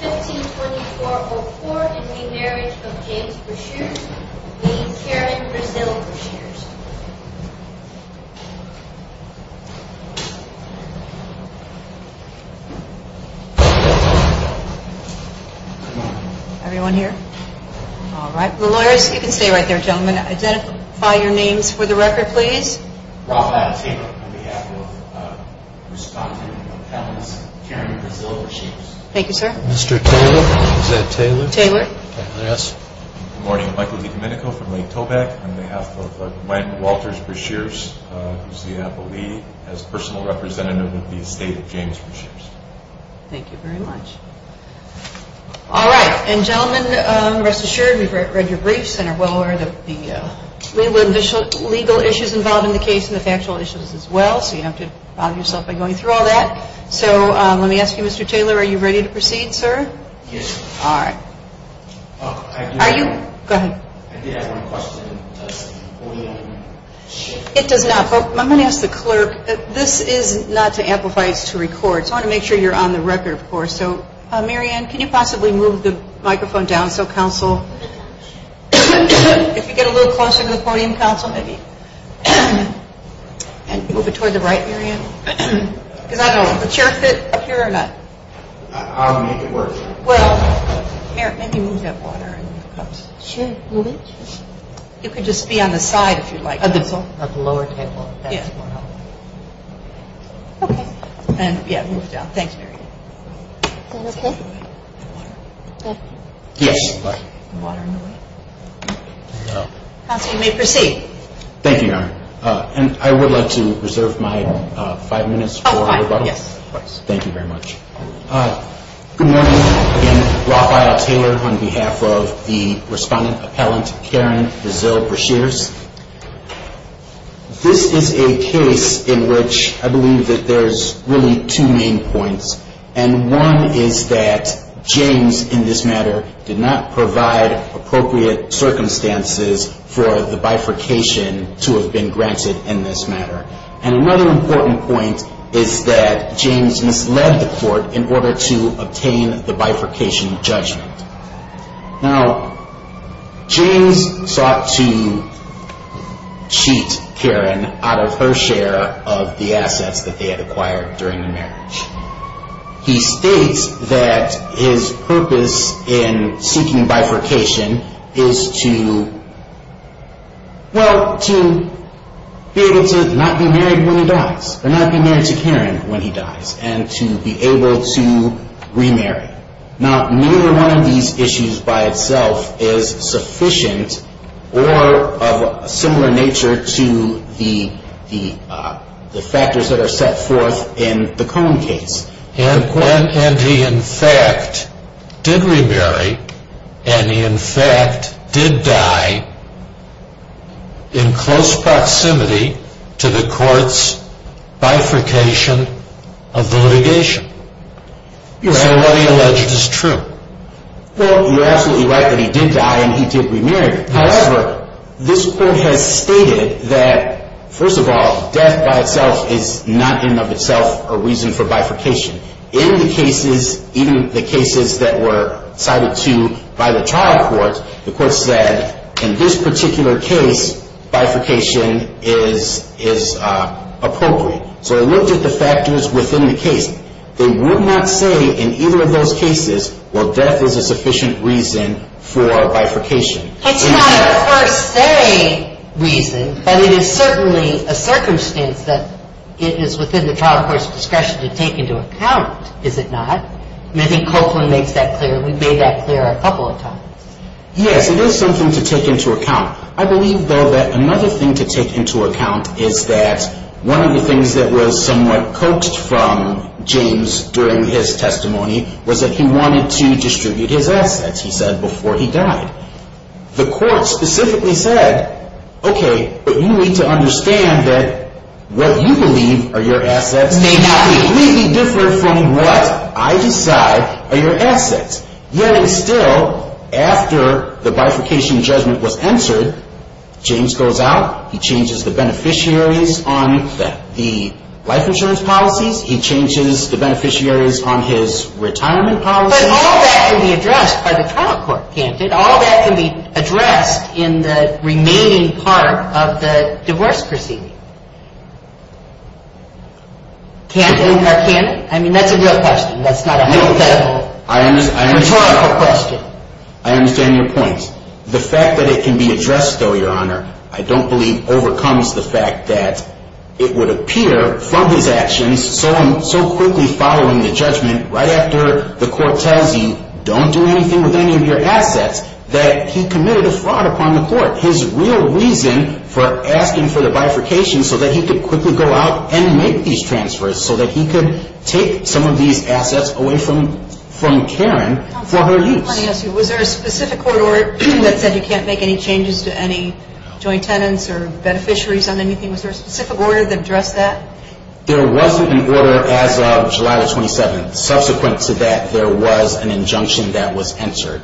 15-24-04 in re Marriage of James Breashears meeting Karen Brazil Breashears The lawyers, you can stay right there gentlemen, identify your names for the record please. Good morning, Michael DiCominico from Lake Tobacco on behalf of Landon Walters Breashears who is the NAPA lead as personal representative of the estate of James Breashears. Thank you very much. All right, and gentlemen, rest assured we've read your briefs and are well aware of the legal issues involved in the case and the factual issues as well, so you don't have to bother yourself by going through all that. So let me ask you, Mr. Taylor, are you ready to proceed, sir? Yes. All right. Are you? Go ahead. I did have one question. It does not, but I'm going to ask the clerk. This is not to amplify, it's to record. So I want to make sure you're on the record, of course. So, Mary Ann, can you possibly move the microphone down so council, if you get a little closer to the podium, council, maybe. And move it toward the right, Mary Ann. Is that a chair fit here or not? I'll make it work. Well, Mary, maybe move that water. You can just be on the side if you'd like. At the lower table. Okay. And, yeah, move it down. Thank you, Mary Ann. Is that okay? Yes. Water in the way? Council, you may proceed. Thank you, Your Honor. And I would like to reserve my five minutes for rebuttal. Oh, fine. Yes. Thank you very much. Good morning. Again, Raphael Taylor on behalf of the respondent appellant, Karen Brazil-Breshears. This is a case in which I believe that there's really two main points. And one is that James, in this matter, did not provide appropriate circumstances for the bifurcation to have been granted in this matter. And another important point is that James misled the court in order to obtain the bifurcation judgment. Now, James sought to cheat Karen out of her share of the assets that they had acquired during the marriage. He states that his purpose in seeking bifurcation is to, well, to be able to not be married when he dies. Or not be married to Karen when he dies. And to be able to remarry. Now, neither one of these issues by itself is sufficient or of a similar nature to the factors that are set forth in the Cohen case. And he, in fact, did remarry. And he, in fact, did die in close proximity to the court's bifurcation of the litigation. So what he alleged is true. Well, you're absolutely right that he did die and he did remarry. However, this court has stated that, first of all, death by itself is not in and of itself a reason for bifurcation. In the cases, even the cases that were cited to by the trial court, the court said, in this particular case, bifurcation is appropriate. So they looked at the factors within the case. They would not say in either of those cases, well, death is a sufficient reason for bifurcation. It's not a per se reason, but it is certainly a circumstance that it is within the trial court's discretion to take into account, is it not? I mean, I think Copeland makes that clear. We've made that clear a couple of times. Yes, it is something to take into account. I believe, though, that another thing to take into account is that one of the things that was somewhat coaxed from James during his testimony was that he wanted to distribute his assets, he said, before he died. The court specifically said, okay, but you need to understand that what you believe are your assets may not be completely different from what I decide are your assets. Yet, and still, after the bifurcation judgment was answered, James goes out, he changes the beneficiaries on the life insurance policies, he changes the beneficiaries on his retirement policies. But all that can be addressed by the trial court, can't it? All that can be addressed in the remaining part of the divorce proceeding. Can it? I mean, that's a real question. That's not a hypothetical. It's a rhetorical question. I understand your point. The fact that it can be addressed, though, Your Honor, I don't believe overcomes the fact that it would appear from his actions, so quickly following the judgment, right after the court tells you, don't do anything with any of your assets, that he committed a fraud upon the court. His real reason for asking for the bifurcation, so that he could quickly go out and make these transfers, so that he could take some of these assets away from Karen for her use. Was there a specific court order that said you can't make any changes to any joint tenants or beneficiaries on anything? Was there a specific order that addressed that? There wasn't an order as of July the 27th. Subsequent to that, there was an injunction that was answered.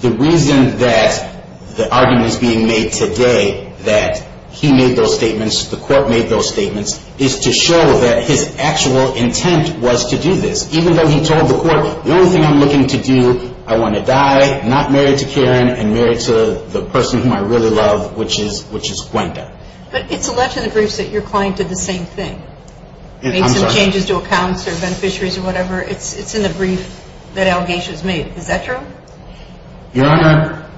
The reason that the argument is being made today that he made those statements, the court made those statements, is to show that his actual intent was to do this. Even though he told the court, the only thing I'm looking to do, I want to die, not marry to Karen, and marry to the person whom I really love, which is Quinta. But it's alleged in the briefs that your client did the same thing. I'm sorry? Made some changes to accounts or beneficiaries or whatever. It's in the brief that Al Gatia's made. Is that true? Your Honor,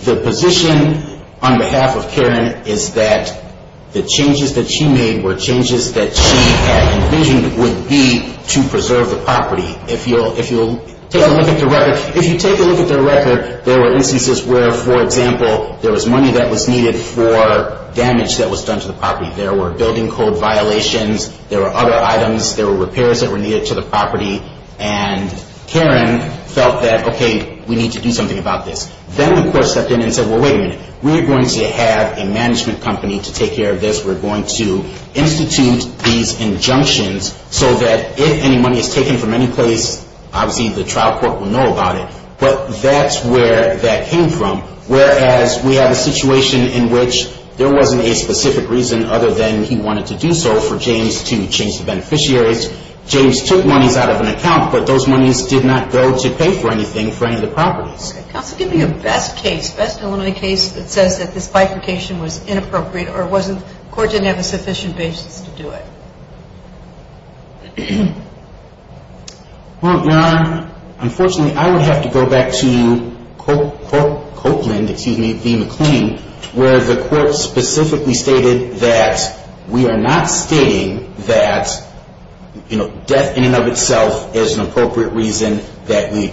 the position on behalf of Karen is that the changes that she made were changes that she had envisioned would be to preserve the property. If you'll take a look at the record, if you take a look at the record, there were instances where, for example, there was money that was needed for damage that was done to the property. There were building code violations. There were other items. There were repairs that were needed to the property. And Karen felt that, okay, we need to do something about this. Then the court stepped in and said, well, wait a minute. We're going to have a management company to take care of this. We're going to institute these injunctions so that if any money is taken from any place, obviously the trial court will know about it. But that's where that came from. Whereas we have a situation in which there wasn't a specific reason other than he wanted to do so for James to change the beneficiaries. James took monies out of an account, but those monies did not go to pay for anything for any of the properties. Okay. Counsel, give me a best case, best and only case that says that this bifurcation was inappropriate or the court didn't have a sufficient basis to do it. Well, Your Honor, unfortunately, I would have to go back to Copeland, excuse me, v. McLean, where the court specifically stated that we are not stating that, you know, death in and of itself is an appropriate reason that we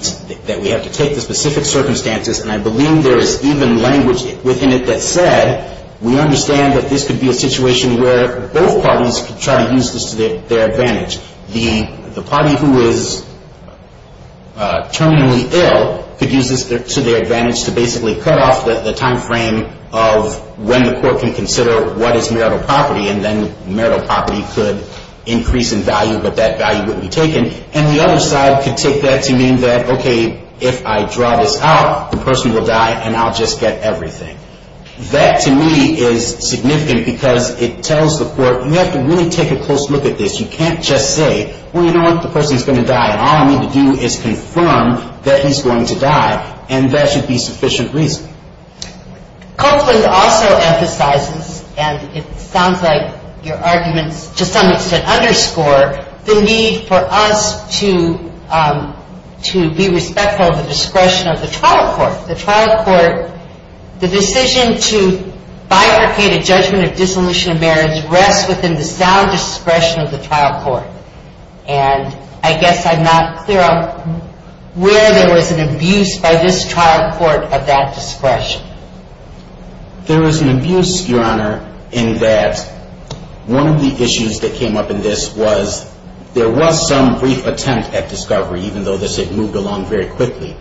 have to take the specific circumstances. And I believe there is even language within it that said we understand that this could be a situation where both parties could try to use this to their advantage. The party who is terminally ill could use this to their advantage to basically cut off the timeframe of when the court can consider what is marital property. And then marital property could increase in value, but that value wouldn't be taken. And the other side could take that to mean that, okay, if I draw this out, the person will die and I'll just get everything. That, to me, is significant because it tells the court you have to really take a close look at this. You can't just say, well, you know what, the person is going to die, and all I need to do is confirm that he's going to die, and that should be sufficient reason. Copeland also emphasizes, and it sounds like your arguments to some extent underscore, the need for us to be respectful of the discretion of the trial court. The trial court, the decision to bifurcate a judgment of dissolution of marriage rests within the sound discretion of the trial court. And I guess I'm not clear on where there was an abuse by this trial court of that discretion. There was an abuse, Your Honor, in that one of the issues that came up in this was there was some brief attempt at discovery, even though this had moved along very quickly.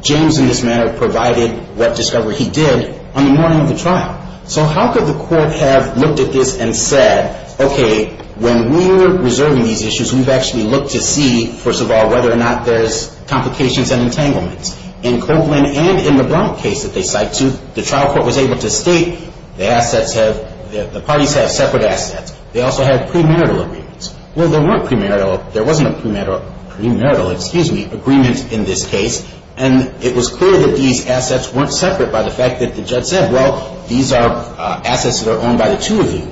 James, in this matter, provided what discovery he did on the morning of the trial. So how could the court have looked at this and said, okay, when we're reserving these issues, we've actually looked to see, first of all, whether or not there's complications and entanglements. In Copeland and in the Brown case that they cite, too, the trial court was able to state the parties have separate assets. They also had premarital agreements. Well, there weren't premarital. There wasn't a premarital agreement in this case, and it was clear that these assets weren't separate by the fact that the judge said, well, these are assets that are owned by the two of you.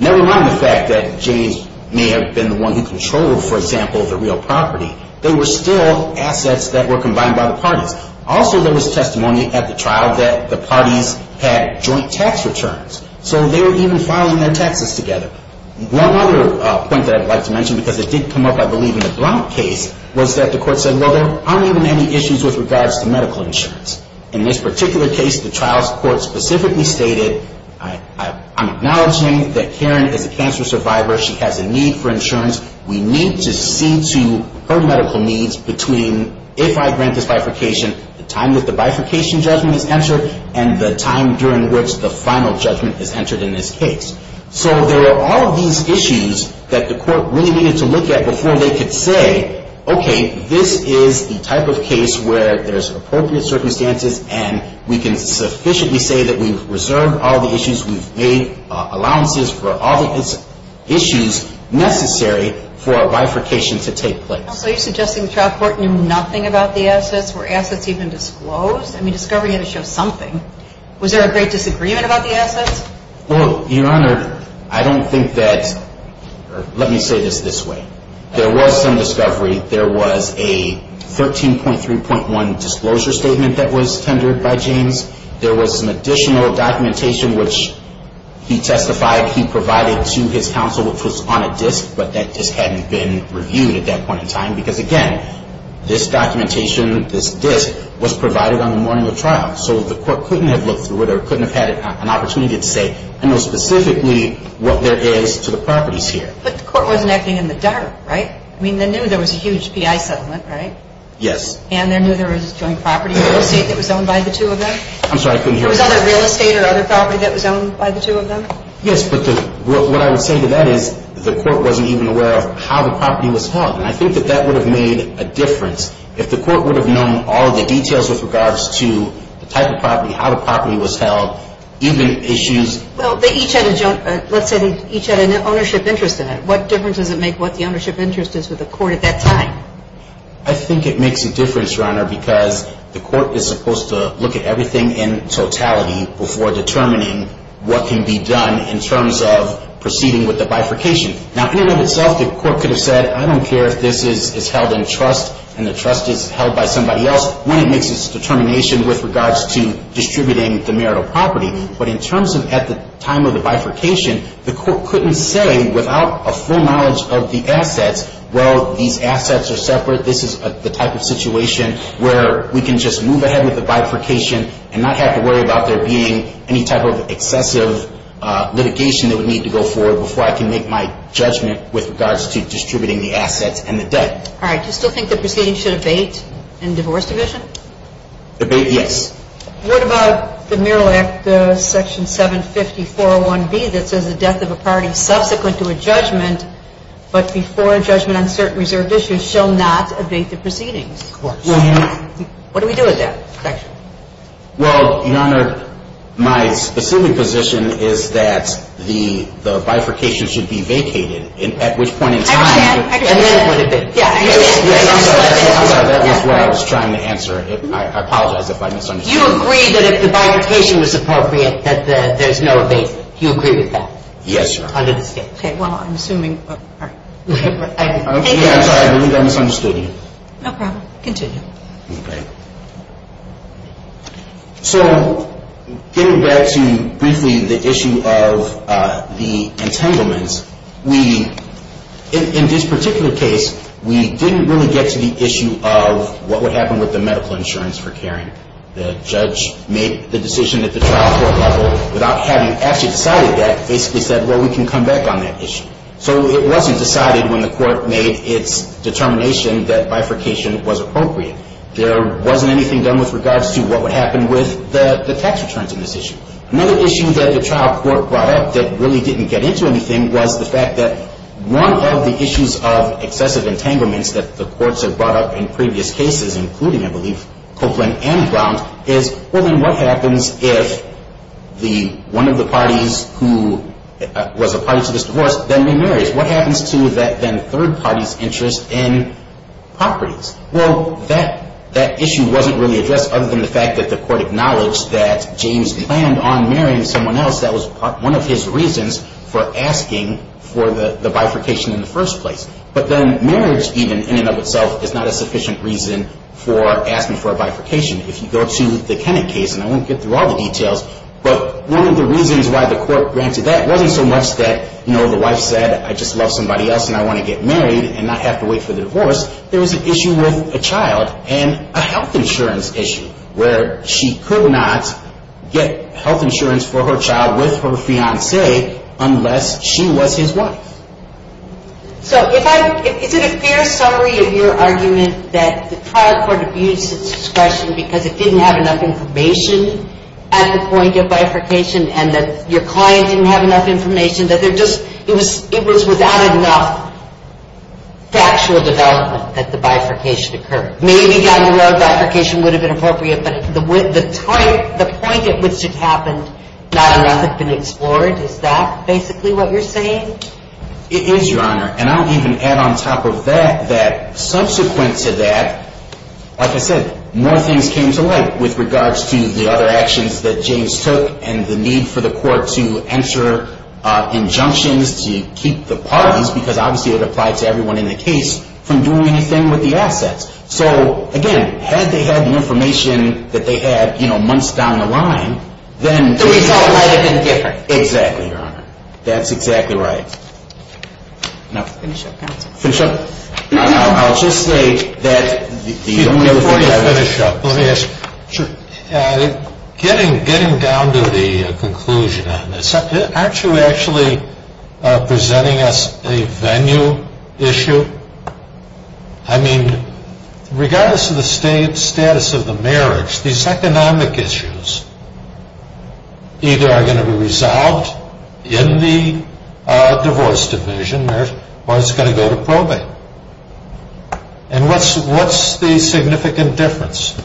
Never mind the fact that James may have been the one who controlled, for example, the real property. They were still assets that were combined by the parties. Also, there was testimony at the trial that the parties had joint tax returns. So they were even filing their taxes together. One other point that I'd like to mention, because it did come up, I believe, in the Brown case, was that the court said, well, there aren't even any issues with regards to medical insurance. In this particular case, the trial court specifically stated, I'm acknowledging that Karen is a cancer survivor. She has a need for insurance. We need to see to her medical needs between if I grant this bifurcation, the time that the bifurcation judgment is entered, and the time during which the final judgment is entered in this case. So there were all of these issues that the court really needed to look at before they could say, okay, this is the type of case where there's appropriate circumstances, and we can sufficiently say that we've reserved all the issues. We've made allowances for all the issues necessary for a bifurcation to take place. So you're suggesting the trial court knew nothing about the assets? Were assets even disclosed? I mean, discovery had to show something. Was there a great disagreement about the assets? Well, Your Honor, I don't think that or let me say this this way. There was some discovery. There was a 13.3.1 disclosure statement that was tendered by James. There was some additional documentation, which he testified he provided to his counsel, which was on a disk, but that disk hadn't been reviewed at that point in time because, again, this documentation, this disk, was provided on the morning of trial. So the court couldn't have looked through it or couldn't have had an opportunity to say, I know specifically what there is to the properties here. But the court wasn't acting in the dark, right? I mean, they knew there was a huge PI settlement, right? Yes. And they knew there was joint property real estate that was owned by the two of them? I'm sorry, I couldn't hear. There was other real estate or other property that was owned by the two of them? Yes, but what I would say to that is the court wasn't even aware of how the property was held. And I think that that would have made a difference if the court would have known all the details with regards to the type of property, how the property was held, even issues. Well, they each had a joint, let's say they each had an ownership interest in it. What difference does it make what the ownership interest is with the court at that time? I think it makes a difference, Your Honor, because the court is supposed to look at everything in totality before determining what can be done in terms of proceeding with the bifurcation. Now, in and of itself, the court could have said, I don't care if this is held in trust and the trust is held by somebody else, when it makes its determination with regards to distributing the marital property. But in terms of at the time of the bifurcation, the court couldn't say without a full knowledge of the assets, well, these assets are separate, this is the type of situation where we can just move ahead with the bifurcation and not have to worry about there being any type of excessive litigation that would need to go forward before I can make my judgment with regards to distributing the assets and the debt. All right. Do you still think the proceeding should abate in divorce division? Abate, yes. What about the Mural Act, Section 750-401B that says the death of a party subsequent to a judgment but before a judgment on certain reserved issues shall not abate the proceedings? Of course. What do we do with that section? Well, Your Honor, my specific position is that the bifurcation should be vacated, at which point in time the bifurcation would abate. I understand. You agree that if the bifurcation was appropriate that there's no abatement. Do you agree with that? Yes, Your Honor. Okay. Well, I'm assuming. I'm sorry. I misunderstood you. No problem. Continue. Okay. So getting back to briefly the issue of the entanglements, we, in this particular case, we didn't really get to the issue of what would happen with the medical insurance for caring. The judge made the decision at the trial court level without having actually decided that, basically said, well, we can come back on that issue. So it wasn't decided when the court made its determination that bifurcation was appropriate. There wasn't anything done with regards to what would happen with the tax returns in this issue. Another issue that the trial court brought up that really didn't get into anything was the fact that one of the issues of excessive entanglements that the courts have brought up in previous cases, including, I believe, Copeland and Brown, is really what happens if one of the parties who was a party to this divorce then remarries. What happens to that then third party's interest in properties? Well, that issue wasn't really addressed other than the fact that the court acknowledged that James planned on marrying someone else. That was one of his reasons for asking for the bifurcation in the first place. But then marriage, even, in and of itself, is not a sufficient reason for asking for a bifurcation. If you go to the Kennett case, and I won't get through all the details, but one of the reasons why the court granted that wasn't so much that, you know, the wife said, I just love somebody else and I want to get married and not have to wait for the divorce. There was an issue with a child and a health insurance issue where she could not get health insurance for her child with her fiancé unless she was his wife. So is it a fair summary of your argument that the trial court abused its discretion because it didn't have enough information at the point of bifurcation and that your client didn't have enough information, that it was without enough factual development that the bifurcation occurred? Maybe down the road bifurcation would have been appropriate, but the point at which it happened, not enough had been explored. Is that basically what you're saying? It is, Your Honor. And I'll even add on top of that that subsequent to that, like I said, more things came to light with regards to the other actions that James took and the need for the court to enter injunctions to keep the parties, because obviously it applied to everyone in the case, from doing anything with the assets. So, again, had they had the information that they had, you know, months down the line, then... The result might have been different. Exactly, Your Honor. That's exactly right. Finish up? No, I'll just say that... Before you finish up, let me ask. Sure. Getting down to the conclusion on this, aren't you actually presenting us a venue issue? I mean, regardless of the status of the marriage, these economic issues either are going to be resolved in the divorce division or it's going to go to probate. And what's the significant difference?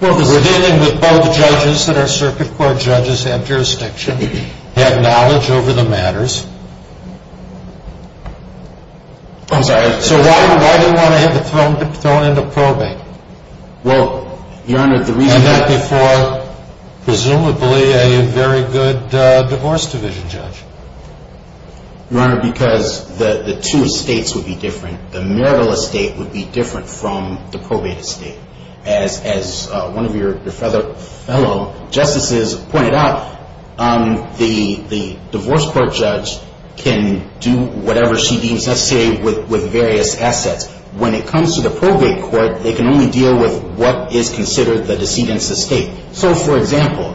Well, because... We're dealing with both judges, and our circuit court judges have jurisdiction, have knowledge over the matters. I'm sorry. So why do you want to have it thrown into probate? Well, Your Honor, the reason... And not before, presumably, a very good divorce division judge. Your Honor, because the two estates would be different. The marital estate would be different from the probate estate. As one of your fellow justices pointed out, the divorce court judge can do whatever she deems necessary with various assets. When it comes to the probate court, they can only deal with what is considered the decedent's estate. So, for example,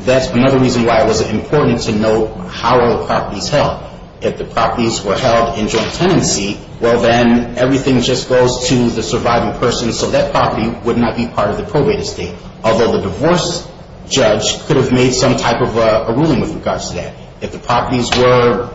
that's another reason why it was important to know how are the properties held. If the properties were held in joint tenancy, well, then everything just goes to the surviving person, so that property would not be part of the probate estate. Although the divorce judge could have made some type of a ruling with regards to that. If the properties were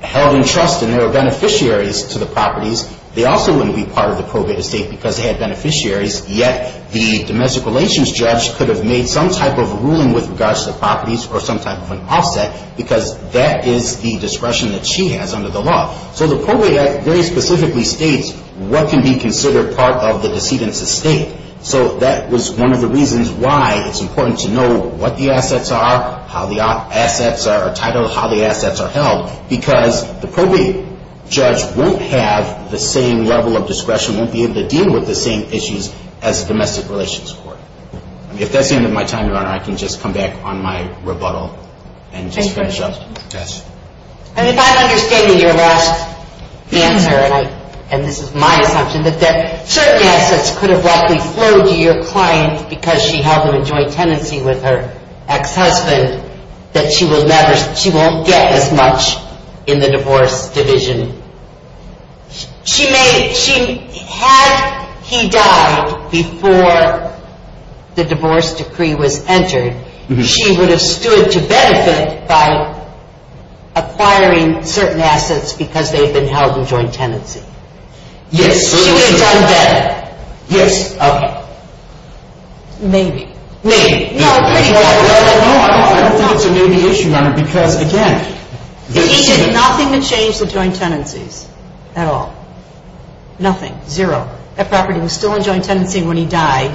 held in trust and there were beneficiaries to the properties, they also wouldn't be part of the probate estate because they had beneficiaries, yet the domestic relations judge could have made some type of a ruling with regards to the properties or some type of an offset because that is the discretion that she has under the law. So the probate act very specifically states what can be considered part of the decedent's estate. So that was one of the reasons why it's important to know what the assets are, how the assets are titled, how the assets are held, because the probate judge won't have the same level of discretion, won't be able to deal with the same issues as the domestic relations court. If that's the end of my time, Your Honor, I can just come back on my rebuttal and just finish up. And if I'm understanding your last answer, and this is my assumption, that certain assets could have likely flowed to your client because she held them in joint tenancy with her ex-husband, that she won't get as much in the divorce division. Had he died before the divorce decree was entered, she would have stood to benefit by acquiring certain assets because they've been held in joint tenancy. Yes. She would have done better. Yes. Okay. Maybe. Maybe. No, pretty much. No, I don't think it's a maybe issue, Your Honor, because, again, he did nothing to change the joint tenancies at all. Nothing. Zero. That property was still in joint tenancy when he died.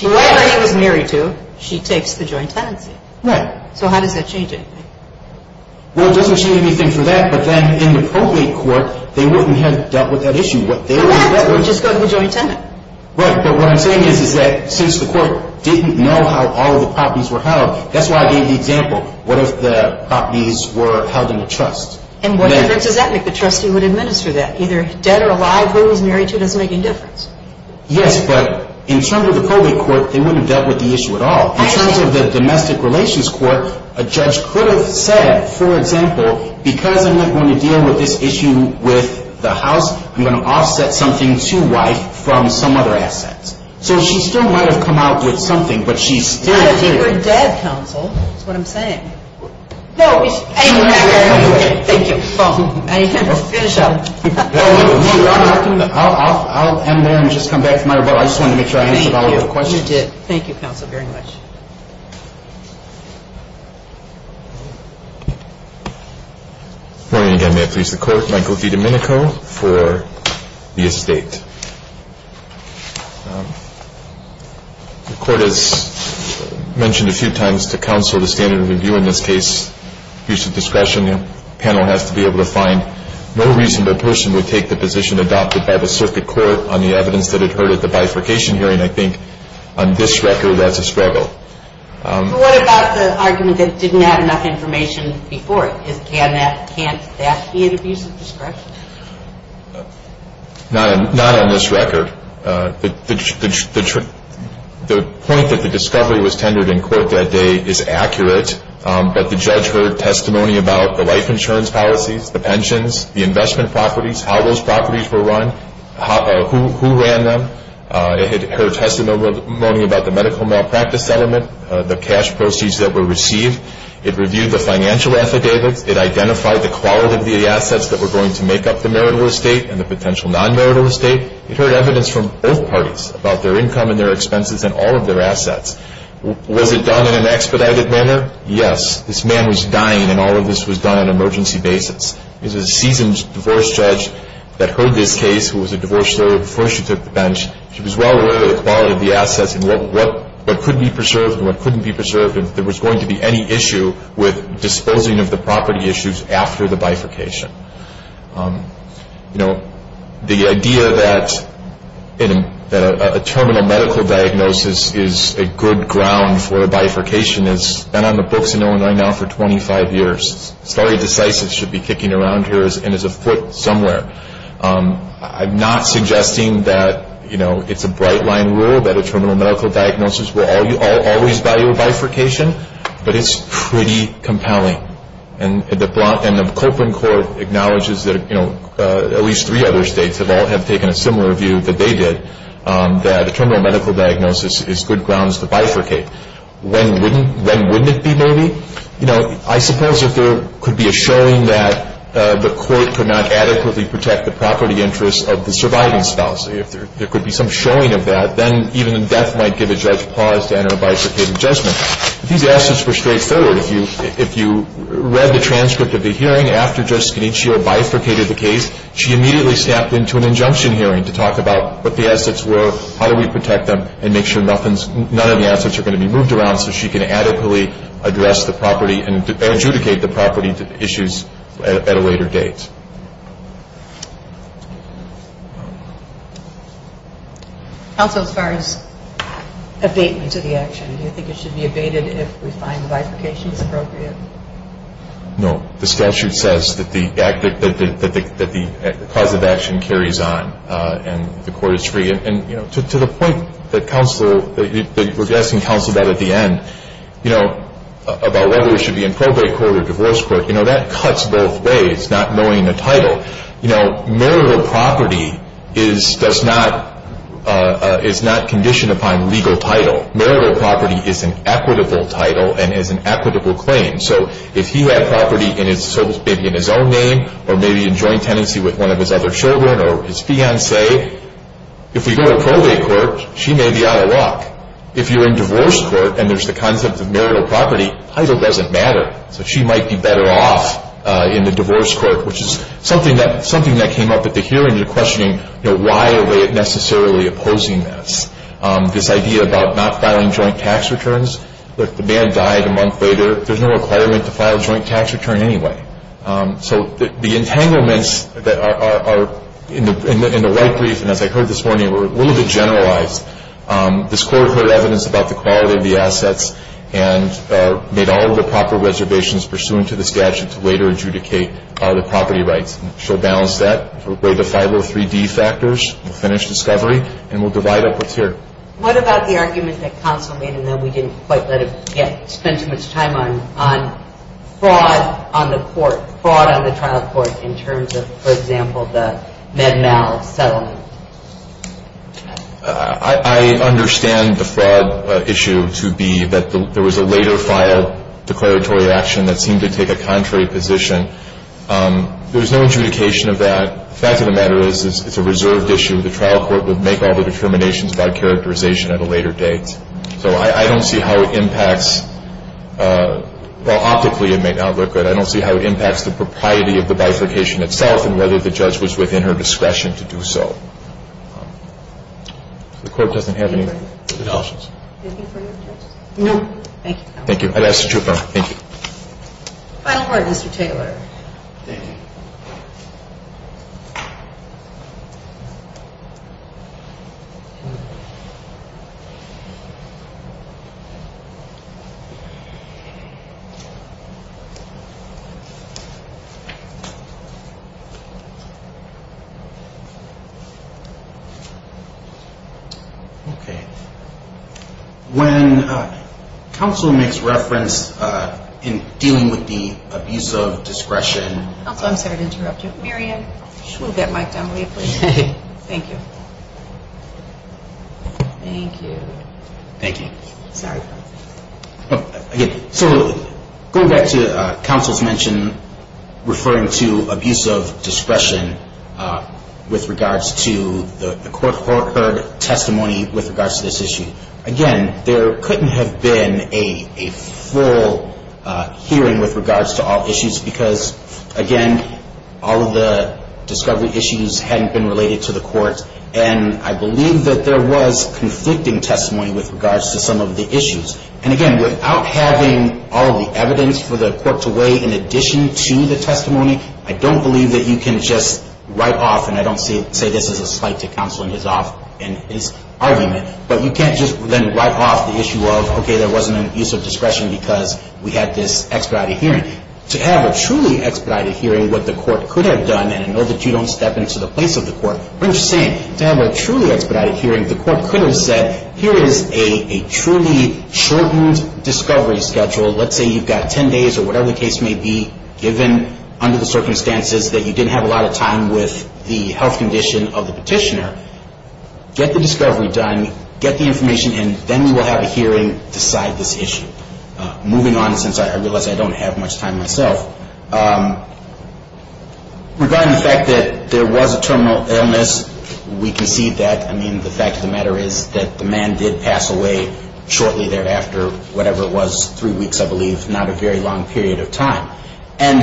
Whoever he was married to, she takes the joint tenancy. Right. So how does that change anything? Well, it doesn't change anything for that, but then in the probate court, they wouldn't have dealt with that issue. Correct. That would just go to the joint tenant. Right. But what I'm saying is that since the court didn't know how all of the properties were held, that's why I gave the example. What if the properties were held in a trust? And what difference does that make? The trustee would administer that. Either dead or alive, who he was married to doesn't make any difference. Yes, but in terms of the probate court, they wouldn't have dealt with the issue at all. In terms of the domestic relations court, a judge could have said, for example, because I'm not going to deal with this issue with the house, I'm going to offset something to wife from some other assets. So she still might have come out with something, but she still didn't. Not if he were dead, counsel. That's what I'm saying. No. Thank you. You can finish up. I'll end there and just come back to my rebuttal. I just wanted to make sure I answered all of your questions. Thank you. You did. Thank you, counsel, very much. Good morning again. May it please the Court. Michael D. Domenico for the estate. The Court has mentioned a few times to counsel the standard of review in this case, use of discretion. The panel has to be able to find no reasonable person would take the position adopted by the circuit court on the evidence that it heard at the bifurcation hearing, I think, on this record as a struggle. What about the argument that it didn't have enough information before? Can't that be an abuse of discretion? Not on this record. The point that the discovery was tendered in court that day is accurate, but the judge heard testimony about the life insurance policies, the pensions, the investment properties, how those properties were run, who ran them. It heard testimony about the medical malpractice settlement, the cash proceeds that were received. It reviewed the financial affidavits. It identified the quality of the assets that were going to make up the marital estate and the potential non-marital estate. It heard evidence from both parties about their income and their expenses and all of their assets. Was it done in an expedited manner? Yes. This man was dying, and all of this was done on an emergency basis. It was a seasoned divorce judge that heard this case, who was a divorce lawyer before she took the bench. She was well aware of the quality of the assets and what could be preserved and what couldn't be preserved, and if there was going to be any issue with disposing of the property issues after the bifurcation. The idea that a terminal medical diagnosis is a good ground for a bifurcation has been on the books in Illinois now for 25 years. A story of decisive should be kicking around here and is afoot somewhere. I'm not suggesting that it's a bright-line rule that a terminal medical diagnosis will always value a bifurcation, but it's pretty compelling. And the Cochran Court acknowledges that at least three other states have all taken a similar view that they did, that a terminal medical diagnosis is good grounds to bifurcate. When wouldn't it be, maybe? I suppose if there could be a showing that the court could not adequately protect the property interests of the surviving spouse, if there could be some showing of that, then even death might give a judge pause to enter a bifurcated judgment. These assets were straightforward. If you read the transcript of the hearing after Judge Scaniccio bifurcated the case, she immediately snapped into an injunction hearing to talk about what the assets were, how do we protect them, and make sure none of the assets are going to be moved around address the property and adjudicate the property issues at a later date. Counsel, as far as abatement to the action, do you think it should be abated if we find the bifurcation is appropriate? No. The statute says that the cause of action carries on and the court is free. To the point that you were addressing, Counsel, at the end, about whether it should be in probate court or divorce court, that cuts both ways, not knowing the title. Marital property is not conditioned upon legal title. Marital property is an equitable title and is an equitable claim. So if he had property maybe in his own name or maybe in joint tenancy with one of his other children or his fiancée, if we go to probate court, she may be out of luck. If you're in divorce court and there's the concept of marital property, title doesn't matter. So she might be better off in the divorce court, which is something that came up at the hearing. You're questioning why are they necessarily opposing this. This idea about not filing joint tax returns. The man died a month later. There's no requirement to file a joint tax return anyway. So the entanglements that are in the right brief, and as I heard this morning, were a little bit generalized. This court heard evidence about the quality of the assets and made all of the proper reservations pursuant to the statute to later adjudicate the property rights. She'll balance that. We'll break the 503D factors. We'll finish discovery and we'll divide up what's here. What about the argument that Counsel made, and that we didn't quite spend too much time on fraud on the court, fraud on the trial court in terms of, for example, the Med-Mal settlement? I understand the fraud issue to be that there was a later filed declaratory action that seemed to take a contrary position. There's no adjudication of that. The fact of the matter is it's a reserved issue. The trial court would make all the determinations about characterization at a later date. So I don't see how it impacts. Well, optically it may not look good. I don't see how it impacts the propriety of the bifurcation itself and whether the judge was within her discretion to do so. The court doesn't have any other options. Thank you. Thank you. Thank you. Final word, Mr. Taylor. Thank you. Okay. When counsel makes reference in dealing with the abuse of discretion. I'm sorry to interrupt you. Mary Ann, move that mic down for me, please. Okay. Thank you. Thank you. Thank you. Sorry about that. So going back to counsel's mention referring to abuse of discretion with regards to the court heard testimony with regards to this issue. Again, there couldn't have been a full hearing with regards to all issues because, again, all of the discovery issues hadn't been related to the court. And I believe that there was conflicting testimony with regards to some of the issues. And, again, without having all of the evidence for the court to weigh in addition to the testimony, I don't believe that you can just write off, and I don't say this as a slight to counsel in his argument, but you can't just then write off the issue of, okay, there wasn't an abuse of discretion because we had this expedited hearing. To have a truly expedited hearing, what the court could have done, and I know that you don't step into the place of the court, but I'm just saying, to have a truly expedited hearing, the court could have said, here is a truly shortened discovery schedule. Let's say you've got 10 days or whatever the case may be, given under the circumstances that you didn't have a lot of time with the health condition of the petitioner, get the discovery done, get the information, and then we will have a hearing to decide this issue. Moving on, since I realize I don't have much time myself, regarding the fact that there was a terminal illness, we concede that, I mean, the fact of the matter is that the man did pass away shortly thereafter, whatever it was, three weeks, I believe, not a very long period of time. And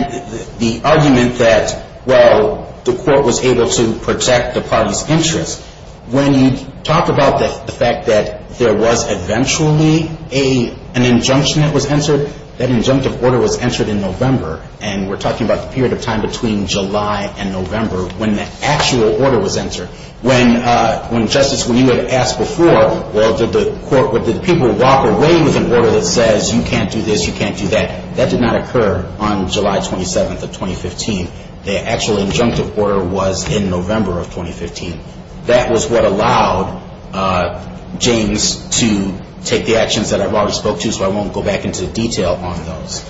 the argument that, well, the court was able to protect the party's interest, when you talk about the fact that there was eventually an injunction that was answered, that injunctive order was answered in November. And we're talking about the period of time between July and November when the actual order was answered. When, Justice, when you had asked before, well, did the people walk away with an order that says you can't do this, you can't do that, that did not occur on July 27th of 2015. The actual injunctive order was in November of 2015. That was what allowed James to take the actions that I've already spoke to, so I won't go back into detail on those.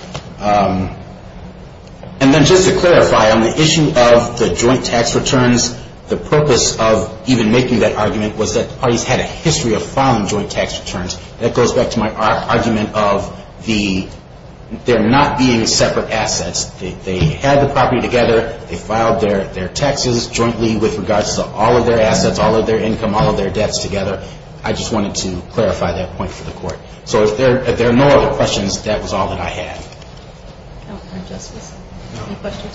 And then just to clarify, on the issue of the joint tax returns, the purpose of even making that argument was that the parties had a history of filing joint tax returns. That goes back to my argument of the, they're not being separate assets. They had the property together, they filed their taxes jointly with regards to all of their assets, all of their income, all of their debts together. I just wanted to clarify that point for the court. So if there are no other questions, that was all that I had. No, Justice? No.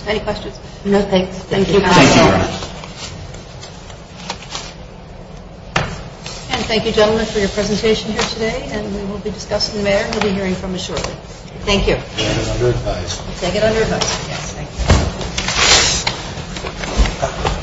Any questions? No, thanks. Thank you. Thank you, Your Honor. And thank you, gentlemen, for your presentation here today. And we will be discussing the matter, and we'll be hearing from you shortly. Thank you. Take it under advice. Yes, thank you.